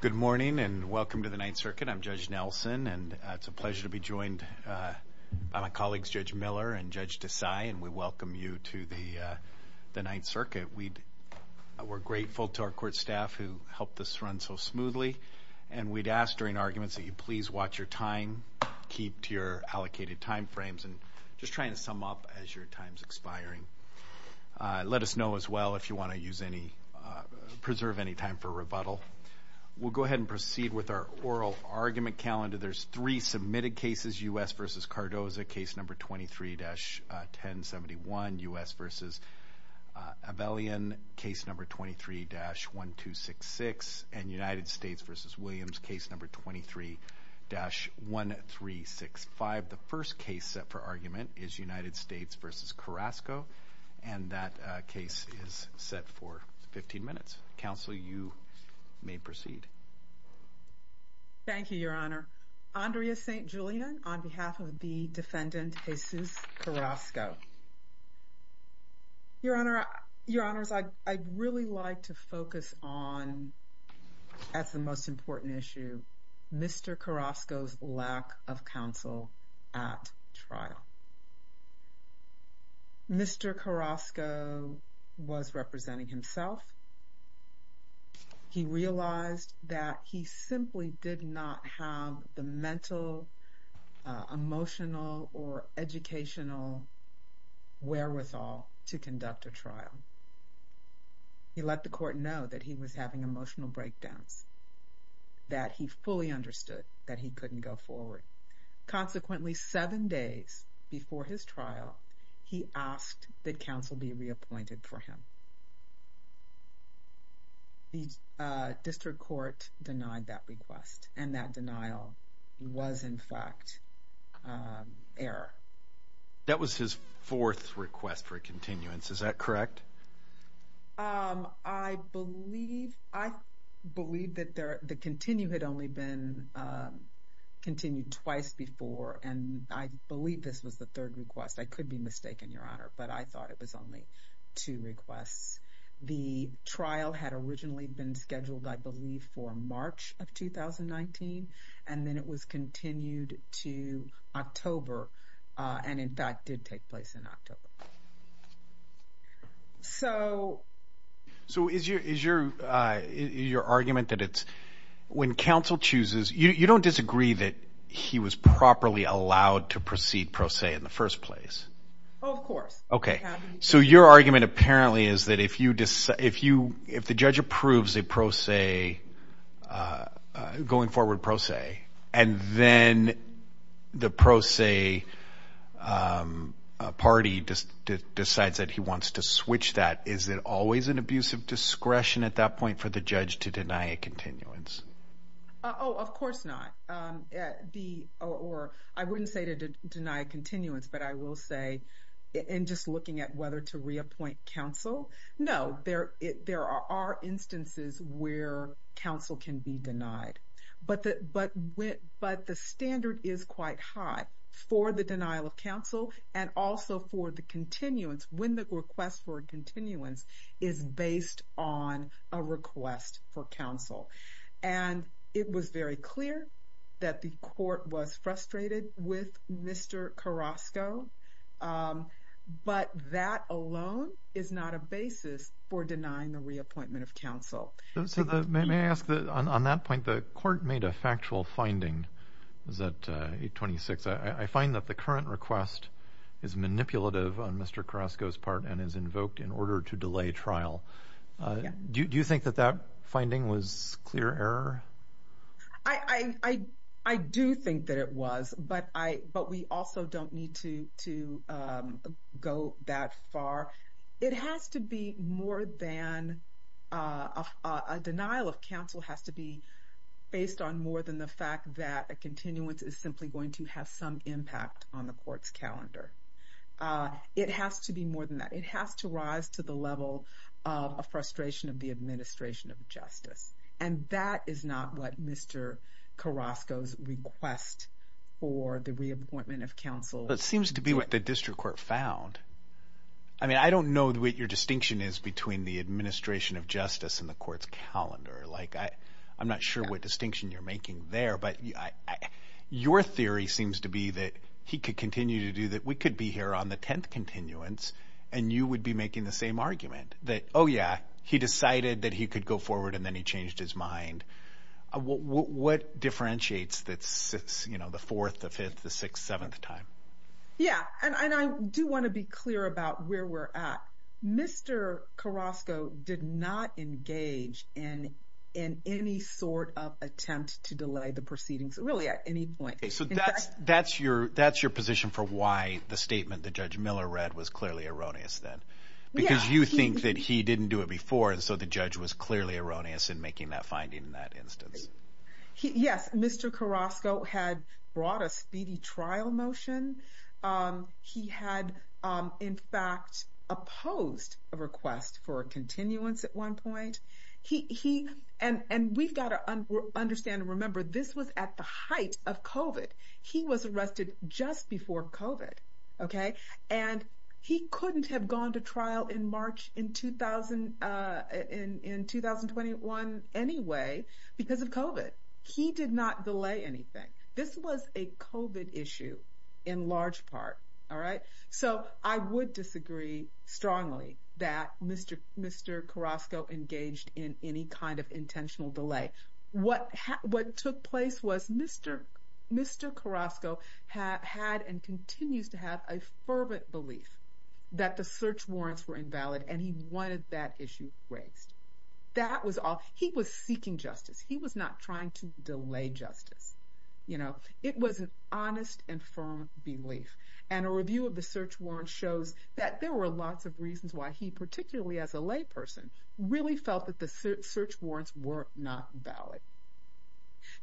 Good morning and welcome to the Ninth Circuit. I'm Judge Nelson and it's a pleasure to be joined by my colleagues Judge Miller and Judge Desai and we welcome you to the the Ninth Circuit. We're grateful to our court staff who helped us run so smoothly and we'd ask during arguments that you please watch your time, keep to your allocated time frames and just trying to sum up as your time's expiring. Let us know as well if you want to use any, preserve any time for rebuttal. We'll go ahead and proceed with our oral argument calendar. There's three submitted cases, U.S. v. Cardoza case number 23-1071, U.S. v. Avelian case number 23-1266 and United States v. Williams case number 23-1365. The first case set for argument is United States v. Carasco and that case is set for 15 minutes. Counsel, you may proceed. Thank you, Your Honor. Andrea St. Julian on behalf of the defendant Jesus Carasco. Your Honor, I'd really like to focus on, as the most important issue, Mr. Carasco's lack of counsel at trial. Mr. Carasco was representing himself. He realized that he simply did not have the mental, emotional or educational wherewithal to conduct a trial. He let the court know that he was having emotional breakdowns, that he fully understood that he couldn't go forward. Consequently, seven days before his trial, he asked that counsel be reappointed for him. The district court denied that request and that denial was, in fact, error. That was his fourth request for a continuance, is that correct? I believe that the continue had only been continued twice before and I believe this was the third request. I could be mistaken, Your Honor, but I thought it was only two requests. The trial had originally been scheduled, I believe, for March of 2019 and then it was continued to October and, in fact, did take place in October. So... So is your argument that it's... When counsel chooses... You don't disagree that he was properly allowed to proceed pro se in the first place? Of course. Okay. So your argument apparently is that if you decide... If you... If the judge approves a pro se, going forward pro se, and then the pro se party decides that he wants to switch that, is it always an abuse of discretion at that point for the judge to deny a continuance? Oh, of course not. The... Or I wouldn't say to deny a continuance, but I will say, in just looking at whether to reappoint counsel, no. There... There are instances where counsel can be denied, but that... But when... But the standard is quite high for the denial of counsel and also for the continuance, when the request for a continuance is based on a request for counsel. And it was very clear that the court was frustrated with Mr. Carrasco, but that alone is not a basis for denying the reappointment of counsel. So the... May I ask that, on that point, the court made a factual finding, was that 826, I find that the current request is manipulative on Mr. Carrasco's part and is invoked in order to delay trial. Do you think that that finding was clear error? I... I do think that it was, but I... But we also don't need to go that far. It has to be more than... A denial of counsel has to be based on more than the fact that a continuance is simply going to have some impact on the court's calendar. It has to be more than that. It has to rise to the level of a frustration of the administration of justice. And that is not what Mr. Carrasco's request for the reappointment of counsel... But it seems to be what the district court found. I mean, I don't know what your distinction is between the administration of justice and the court's calendar. Like, I... I'm not sure what distinction you're making there, but I... Your theory seems to be that he could continue to do that. We could be here on the 10th continuance and you would be making the same argument. That, oh yeah, he decided that he could go forward and then he changed his mind. What... What differentiates that six, you know, the fourth, the fifth, the sixth, seventh time? Yeah. And I do want to be clear about where we're at. Mr. Carrasco did not engage in... in any sort of attempt to delay the proceedings, really at any point. So that's... that's your... that's your position for why the statement that Judge Miller read was clearly erroneous then? Because you think that he didn't do it before and so the judge was clearly erroneous in making that finding in that instance. Yes, Mr. Carrasco had brought a speedy trial motion. He had, in fact, opposed a request for a continuance at one point. He... he... and... and we've got to understand and remember this was at the height of COVID. He was arrested just before COVID, okay? And he couldn't have gone to trial in March in 2000... in... in 2021 anyway because of COVID. He did not delay anything. This was a COVID issue in large part, all right? So I would disagree strongly that Mr. Carrasco engaged in any kind of intentional delay. What... what took place was Mr. Carrasco had and continues to have a belief that the search warrants were invalid and he wanted that issue raised. That was all. He was seeking justice. He was not trying to delay justice, you know? It was an honest and firm belief and a review of the search warrant shows that there were lots of reasons why he, particularly as a layperson, really felt that the search warrants were not valid.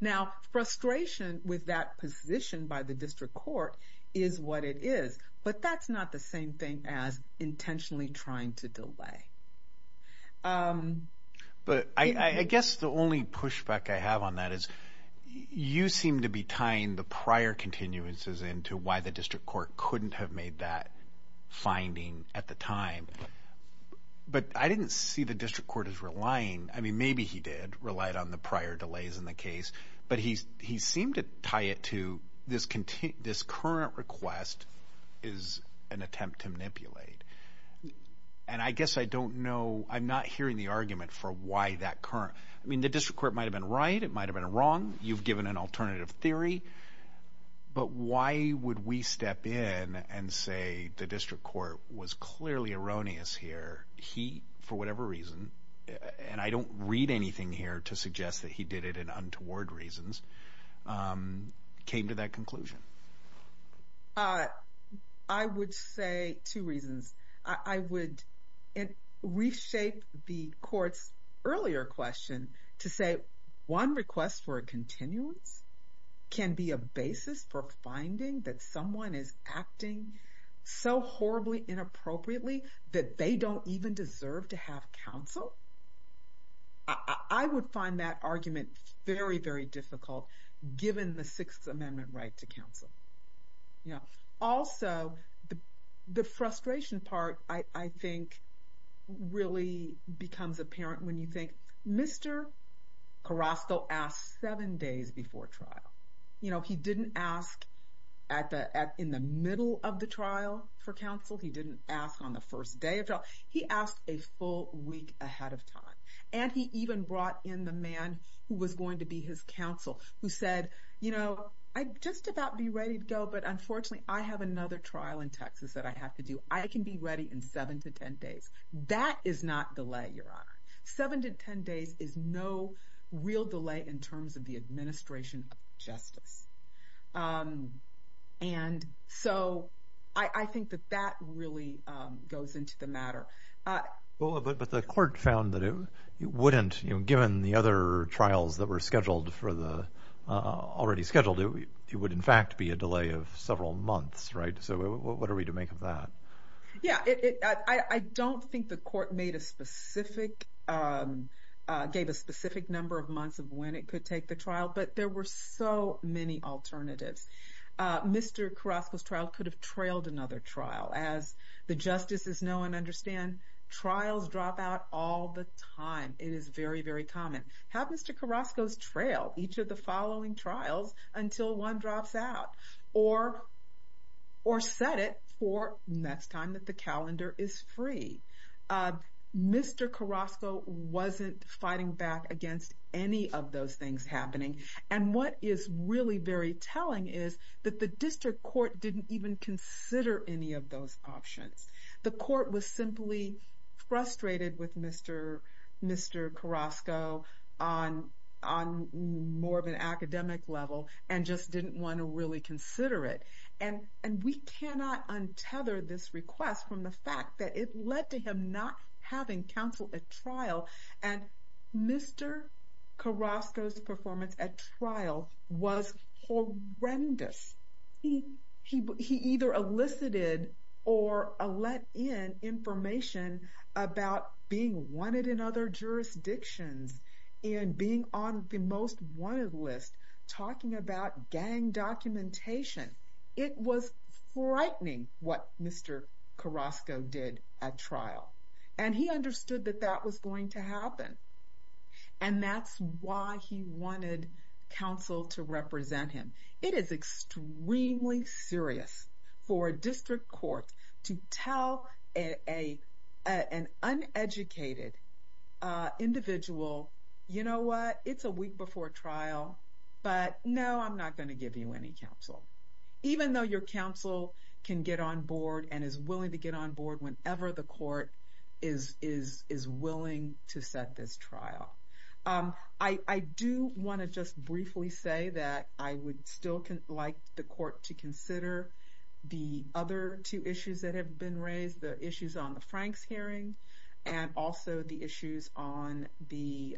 Now, frustration with that position by the district court is what it is, but that's not the same thing as intentionally trying to delay. But I guess the only pushback I have on that is you seem to be tying the prior continuances into why the district court couldn't have made that finding at the time. But I didn't see the delays in the case. But he seemed to tie it to this current request is an attempt to manipulate. And I guess I don't know... I'm not hearing the argument for why that current... I mean, the district court might have been right. It might have been wrong. You've given an alternative theory. But why would we step in and say the district court was clearly erroneous here? He, for whatever reason, and I don't read anything here to suggest that he did it in untoward reasons, came to that conclusion. I would say two reasons. I would reshape the court's earlier question to say one request for a continuance can be a basis for finding that someone is acting so horribly inappropriately that they don't even deserve to have counsel. I would find that argument very, very difficult given the Sixth Amendment right to counsel. Also, the frustration part, I think, really becomes apparent when you think Mr. Carrasco asked seven days before trial. He didn't ask in the middle of the trial for counsel. He didn't ask on the first day of trial. He asked a full week ahead of time. And he even brought in the man who was going to be his counsel who said, I'd just about be ready to go. But unfortunately, I have another trial in Texas that I have to do. I can be ready in seven to 10 days. That is not delay, Your Honor. Seven to 10 days is no real delay in terms of the administration of justice. And so I think that that really goes into the matter. But the court found that it wouldn't, given the other trials that were scheduled for the, already scheduled, it would in fact be a delay of several months, right? So what are we to make of that? Yeah, I don't think the court gave a specific number of months of when it could take the trial, but there were so many alternatives. Mr. Carrasco's trial could have trailed another trial. As the justices know and understand, trials drop out all the time. It is very, very common. Have Mr. Carrasco's trail each of the following trials until one drops out or set it for next time that the calendar is free. Mr. Carrasco wasn't fighting back against any of those things happening. And what is really very telling is that the district court didn't even consider any of those options. The court was simply frustrated with Mr. Carrasco on more of an and we cannot untether this request from the fact that it led to him not having counsel at trial. And Mr. Carrasco's performance at trial was horrendous. He either elicited or let in information about being wanted in other jurisdictions and being on the most wanted list talking about gang documentation. It was frightening what Mr. Carrasco did at trial. And he understood that that was going to happen. And that's why he wanted counsel to represent him. It is extremely serious for a district court to tell an uneducated individual, you know what, it's a week before trial, but no, I'm not going to give you any counsel. Even though your counsel can get on board and is willing to get on board whenever the court is willing to set this trial. I do want to just briefly say that I would still like the court to consider the other two issues that have been raised. The issues on the Franks hearing and also the issues on the,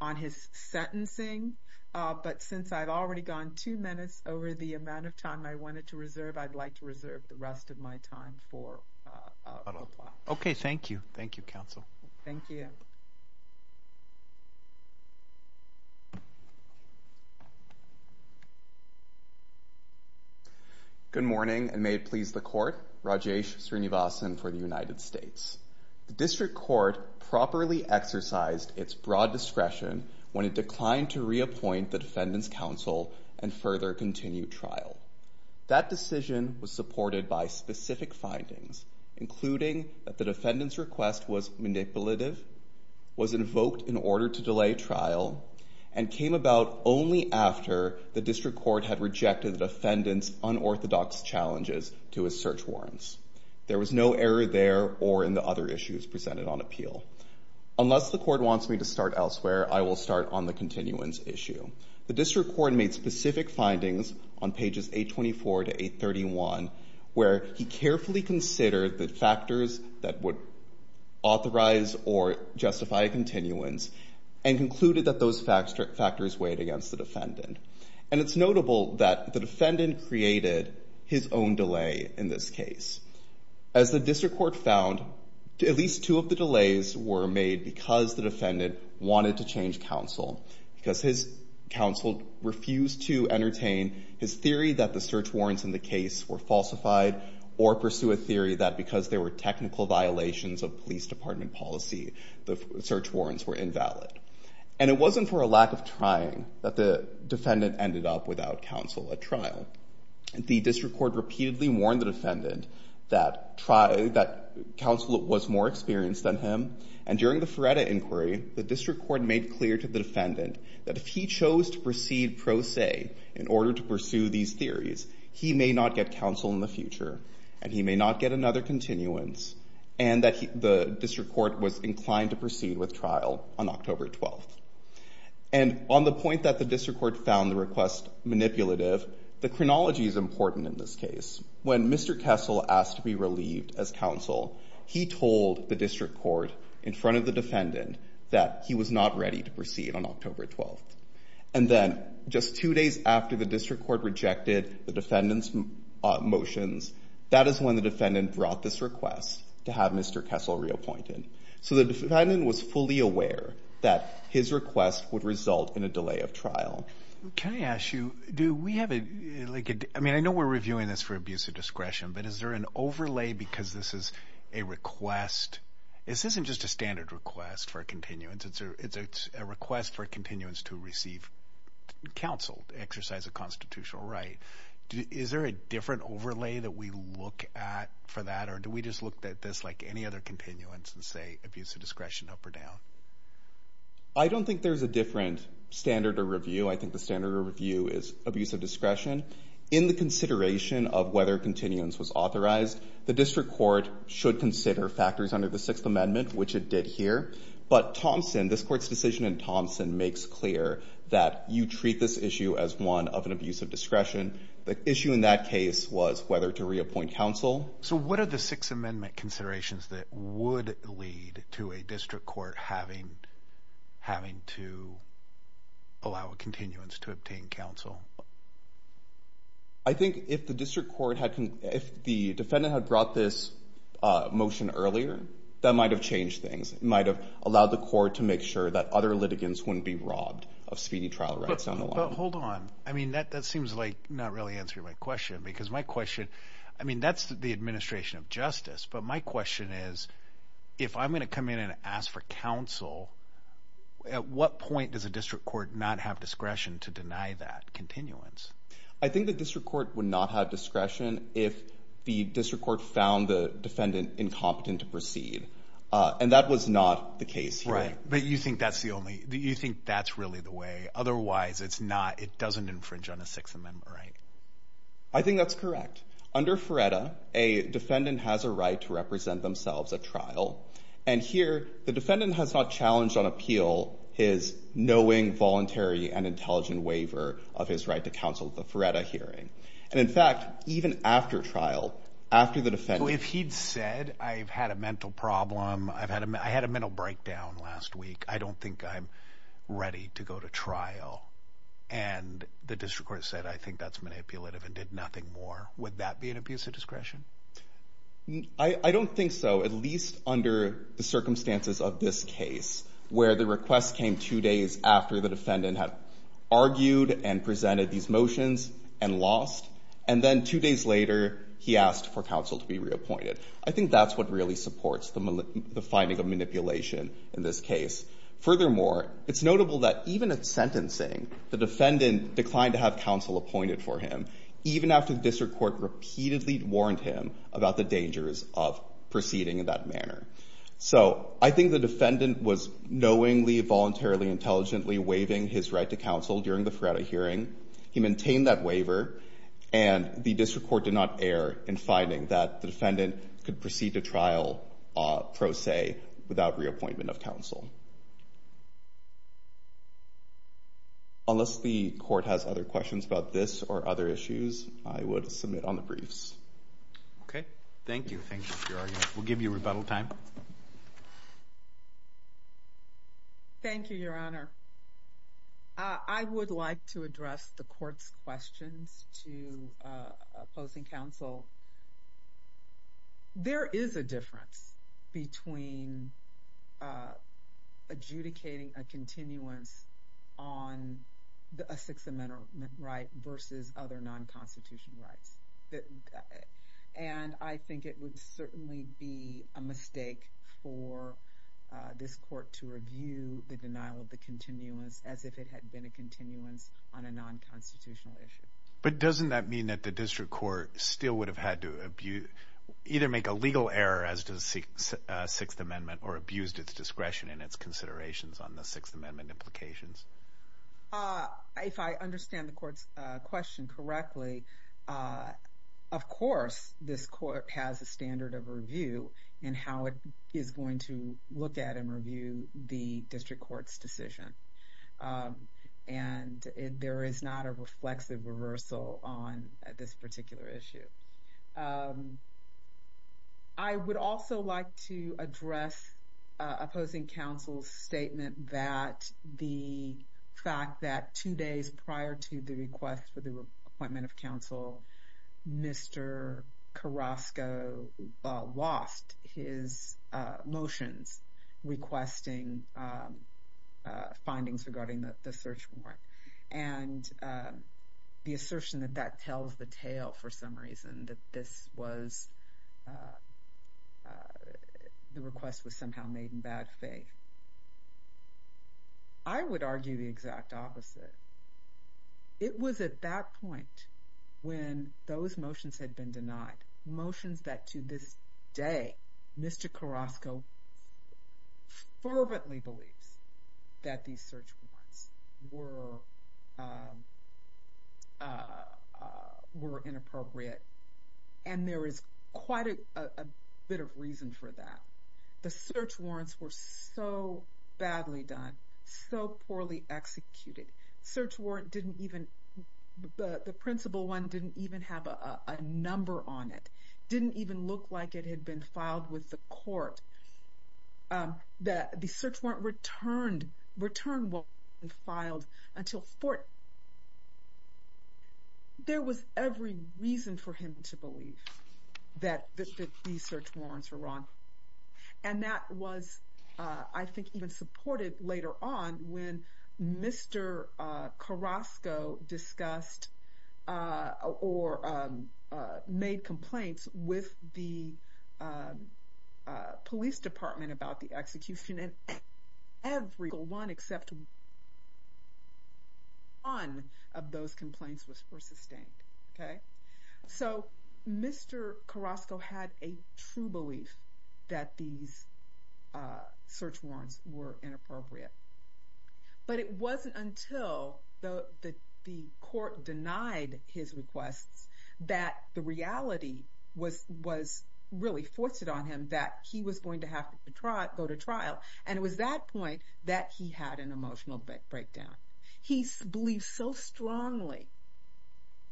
on his sentencing. But since I've already gone two minutes over the amount of time I wanted to reserve, I'd like to reserve the rest of my time for. Okay, thank you. Thank you, counsel. Thank you. Good morning and may it please the court. Rajesh Srinivasan for the United States. The district court properly exercised its broad discretion when it declined to reappoint the defendant's counsel and further continue trial. That decision was supported by specific findings, including that the defendant's request was manipulative, was invoked in order to delay trial, and came about only after the district court had rejected the defendant's unorthodox challenges to his search warrants. There was no error there or in the other issues presented on appeal. Unless the court wants me to start elsewhere, I will start on the continuance issue. The district court made specific findings on pages 824 to 831 where he carefully considered the factors that would authorize or justify continuance and concluded that those factors weighed against the defendant. And it's notable that the defendant created his own delay in this case. As the district court found, at least two of the delays were made because the defendant wanted to change counsel because his counsel refused to entertain his theory that the search warrants in the case were falsified or pursue a theory that because there were technical violations of police department policy, the search warrants were invalid. And it wasn't for a lack of trying that the defendant ended up without counsel at trial. The district court repeatedly warned the defendant that counsel was more experienced than him. And during the Feretta inquiry, the district court made clear to the defendant that if he chose to proceed pro se in order to pursue these theories, he may not get counsel in the future and he may not get another continuance and that the district court was inclined to proceed with trial on October 12th. And on the point that the district court found the request manipulative, the chronology is important in this case. When Mr. Kessel asked to be relieved as counsel, he told the district court in front of the defendant that he was not ready to proceed on October 12th. And then just two days after the district court rejected the defendant's motions, that is when the defendant brought this request to have Mr. Kessel reappointed. So the defendant was fully aware that his request would result in a delay of trial. Can I ask you, do we have a like, I mean, I know we're reviewing this for abuse of discretion, but is there an overlay because this is a request? This isn't just a standard request for continuance. It's a request for continuance to receive counsel to exercise a constitutional right. Is there a different overlay that we look at for that? Or do we just look at this like any other continuance and say abuse of discretion up or down? I don't think there's a different standard of review. I think the standard of review is abuse of discretion. In the consideration of whether continuance was authorized, the district court should consider factors under the Sixth Amendment, which it did here. But Thompson, this court's decision in Thompson, makes clear that you treat this issue as one of an abuse of discretion. The issue in that case was whether to reappoint counsel. So what are the Sixth Amendment considerations that would lead to a district court having to allow a continuance to obtain counsel? I think if the district court had, if the defendant had brought this motion earlier, that might have changed things. It might have allowed the court to make sure that other litigants wouldn't be robbed of speedy trial rights down the line. But hold on. I mean, that seems like not really answering my question, because my question, I mean, that's the administration of justice. But my question is, if I'm going to come in and ask for counsel, at what point does a district court not have discretion to deny that continuance? I think the district court would not have discretion if the district court found the defendant incompetent to proceed. And that was not the case. Right. But you think that's the only, you think that's really the way? Otherwise, it doesn't infringe on the Sixth Amendment, right? I think that's correct. Under FREDA, a defendant has a right to represent themselves at trial. And here, the defendant has not challenged on appeal his knowing, voluntary, and intelligent waiver of his right to counsel at the FREDA hearing. And in fact, even after trial, after the defendant... So if he'd said, I've had a mental problem, I had a mental breakdown last week, I don't think I'm ready to go to trial. And the district court said, I think that's manipulative and did nothing more, would that be an abuse of discretion? I don't think so, at least under the circumstances of this case, where the request came two days after the defendant had argued and presented these motions and lost. And then two days later, he asked for counsel to be reappointed. I think that's what really supports the finding of manipulation in this case. Furthermore, it's notable that even at sentencing, the defendant declined to have counsel appointed for him, even after the district court repeatedly warned him about the dangers of proceeding in that manner. So I think the defendant was knowingly, voluntarily, intelligently waiving his right to counsel during the FREDA hearing. He maintained that waiver, and the district court did not err in finding that the defendant could proceed to trial, pro se, without reappointment of counsel. Unless the court has other questions about this or other issues, I would submit on the briefs. Okay, thank you. We'll give you rebuttal time. Thank you, Your Honor. I would like to address the court's questions to opposing counsel because there is a difference between adjudicating a continuance on a Sixth Amendment right versus other non-constitutional rights. And I think it would certainly be a mistake for this court to review the denial of the continuance as if it had been a continuance on a non-constitutional issue. But doesn't that mean that the district court still would have had to either make a legal error as to the Sixth Amendment, or abused its discretion and its considerations on the Sixth Amendment implications? If I understand the court's question correctly, of course, this court has a standard of review in how it is going to look at and review the district court's decision. And there is not a reflexive reversal on this particular issue. I would also like to address opposing counsel's statement that the fact that two days prior to the request for the appointment of counsel, Mr. Carrasco lost his motions requesting findings regarding the search warrant. And the assertion that that tells the tale, for some reason, that this was, the request was somehow made in bad faith. I would argue the exact opposite. It was at that point when those motions had been denied, motions that to this day, Mr. Carrasco fervently believes that these search warrants were inappropriate. And there is quite a bit of reason for that. The search warrants were so badly done, so poorly executed, search warrant didn't even, the principal one didn't even have a number on it, didn't even look like it had been filed with the court, that the search warrant returned what had been filed until fourth. There was every reason for him to believe that these search warrants were wrong. And that was, I think even supported later on when Mr. Carrasco discussed or made complaints with the police department about the execution and everyone except one of those complaints were sustained. Okay. So Mr. Carrasco had a true belief that these search warrants were inappropriate, but it wasn't until the court denied his requests that the reality was really forced it on him that he was going to have to go to trial. And it was that point that he had an emotional breakdown. He believes so strongly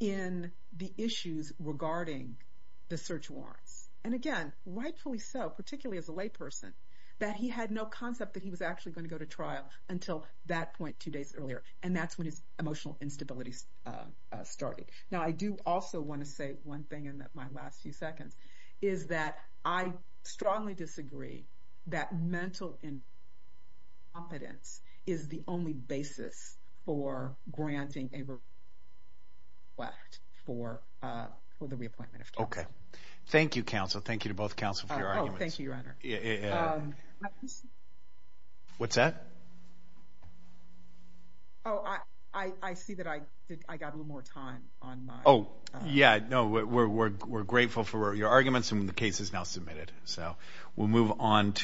in the issues regarding the search warrants. And again, rightfully so, particularly as a lay person, that he had no concept that he was actually going to go to trial until that point two days earlier. And that's when his emotional instabilities started. Now, I do also want to say one thing in my last few seconds is that I strongly disagree that mental incompetence is the only basis for granting a request for the reappointment of counsel. Okay. Thank you, counsel. Thank you to both counsel for your arguments. Oh, thank you, your honor. What's that? Oh, I see that I got a little more time on my... Oh, yeah. No, we're grateful for your arguments and the case is now submitted. So we'll move on to...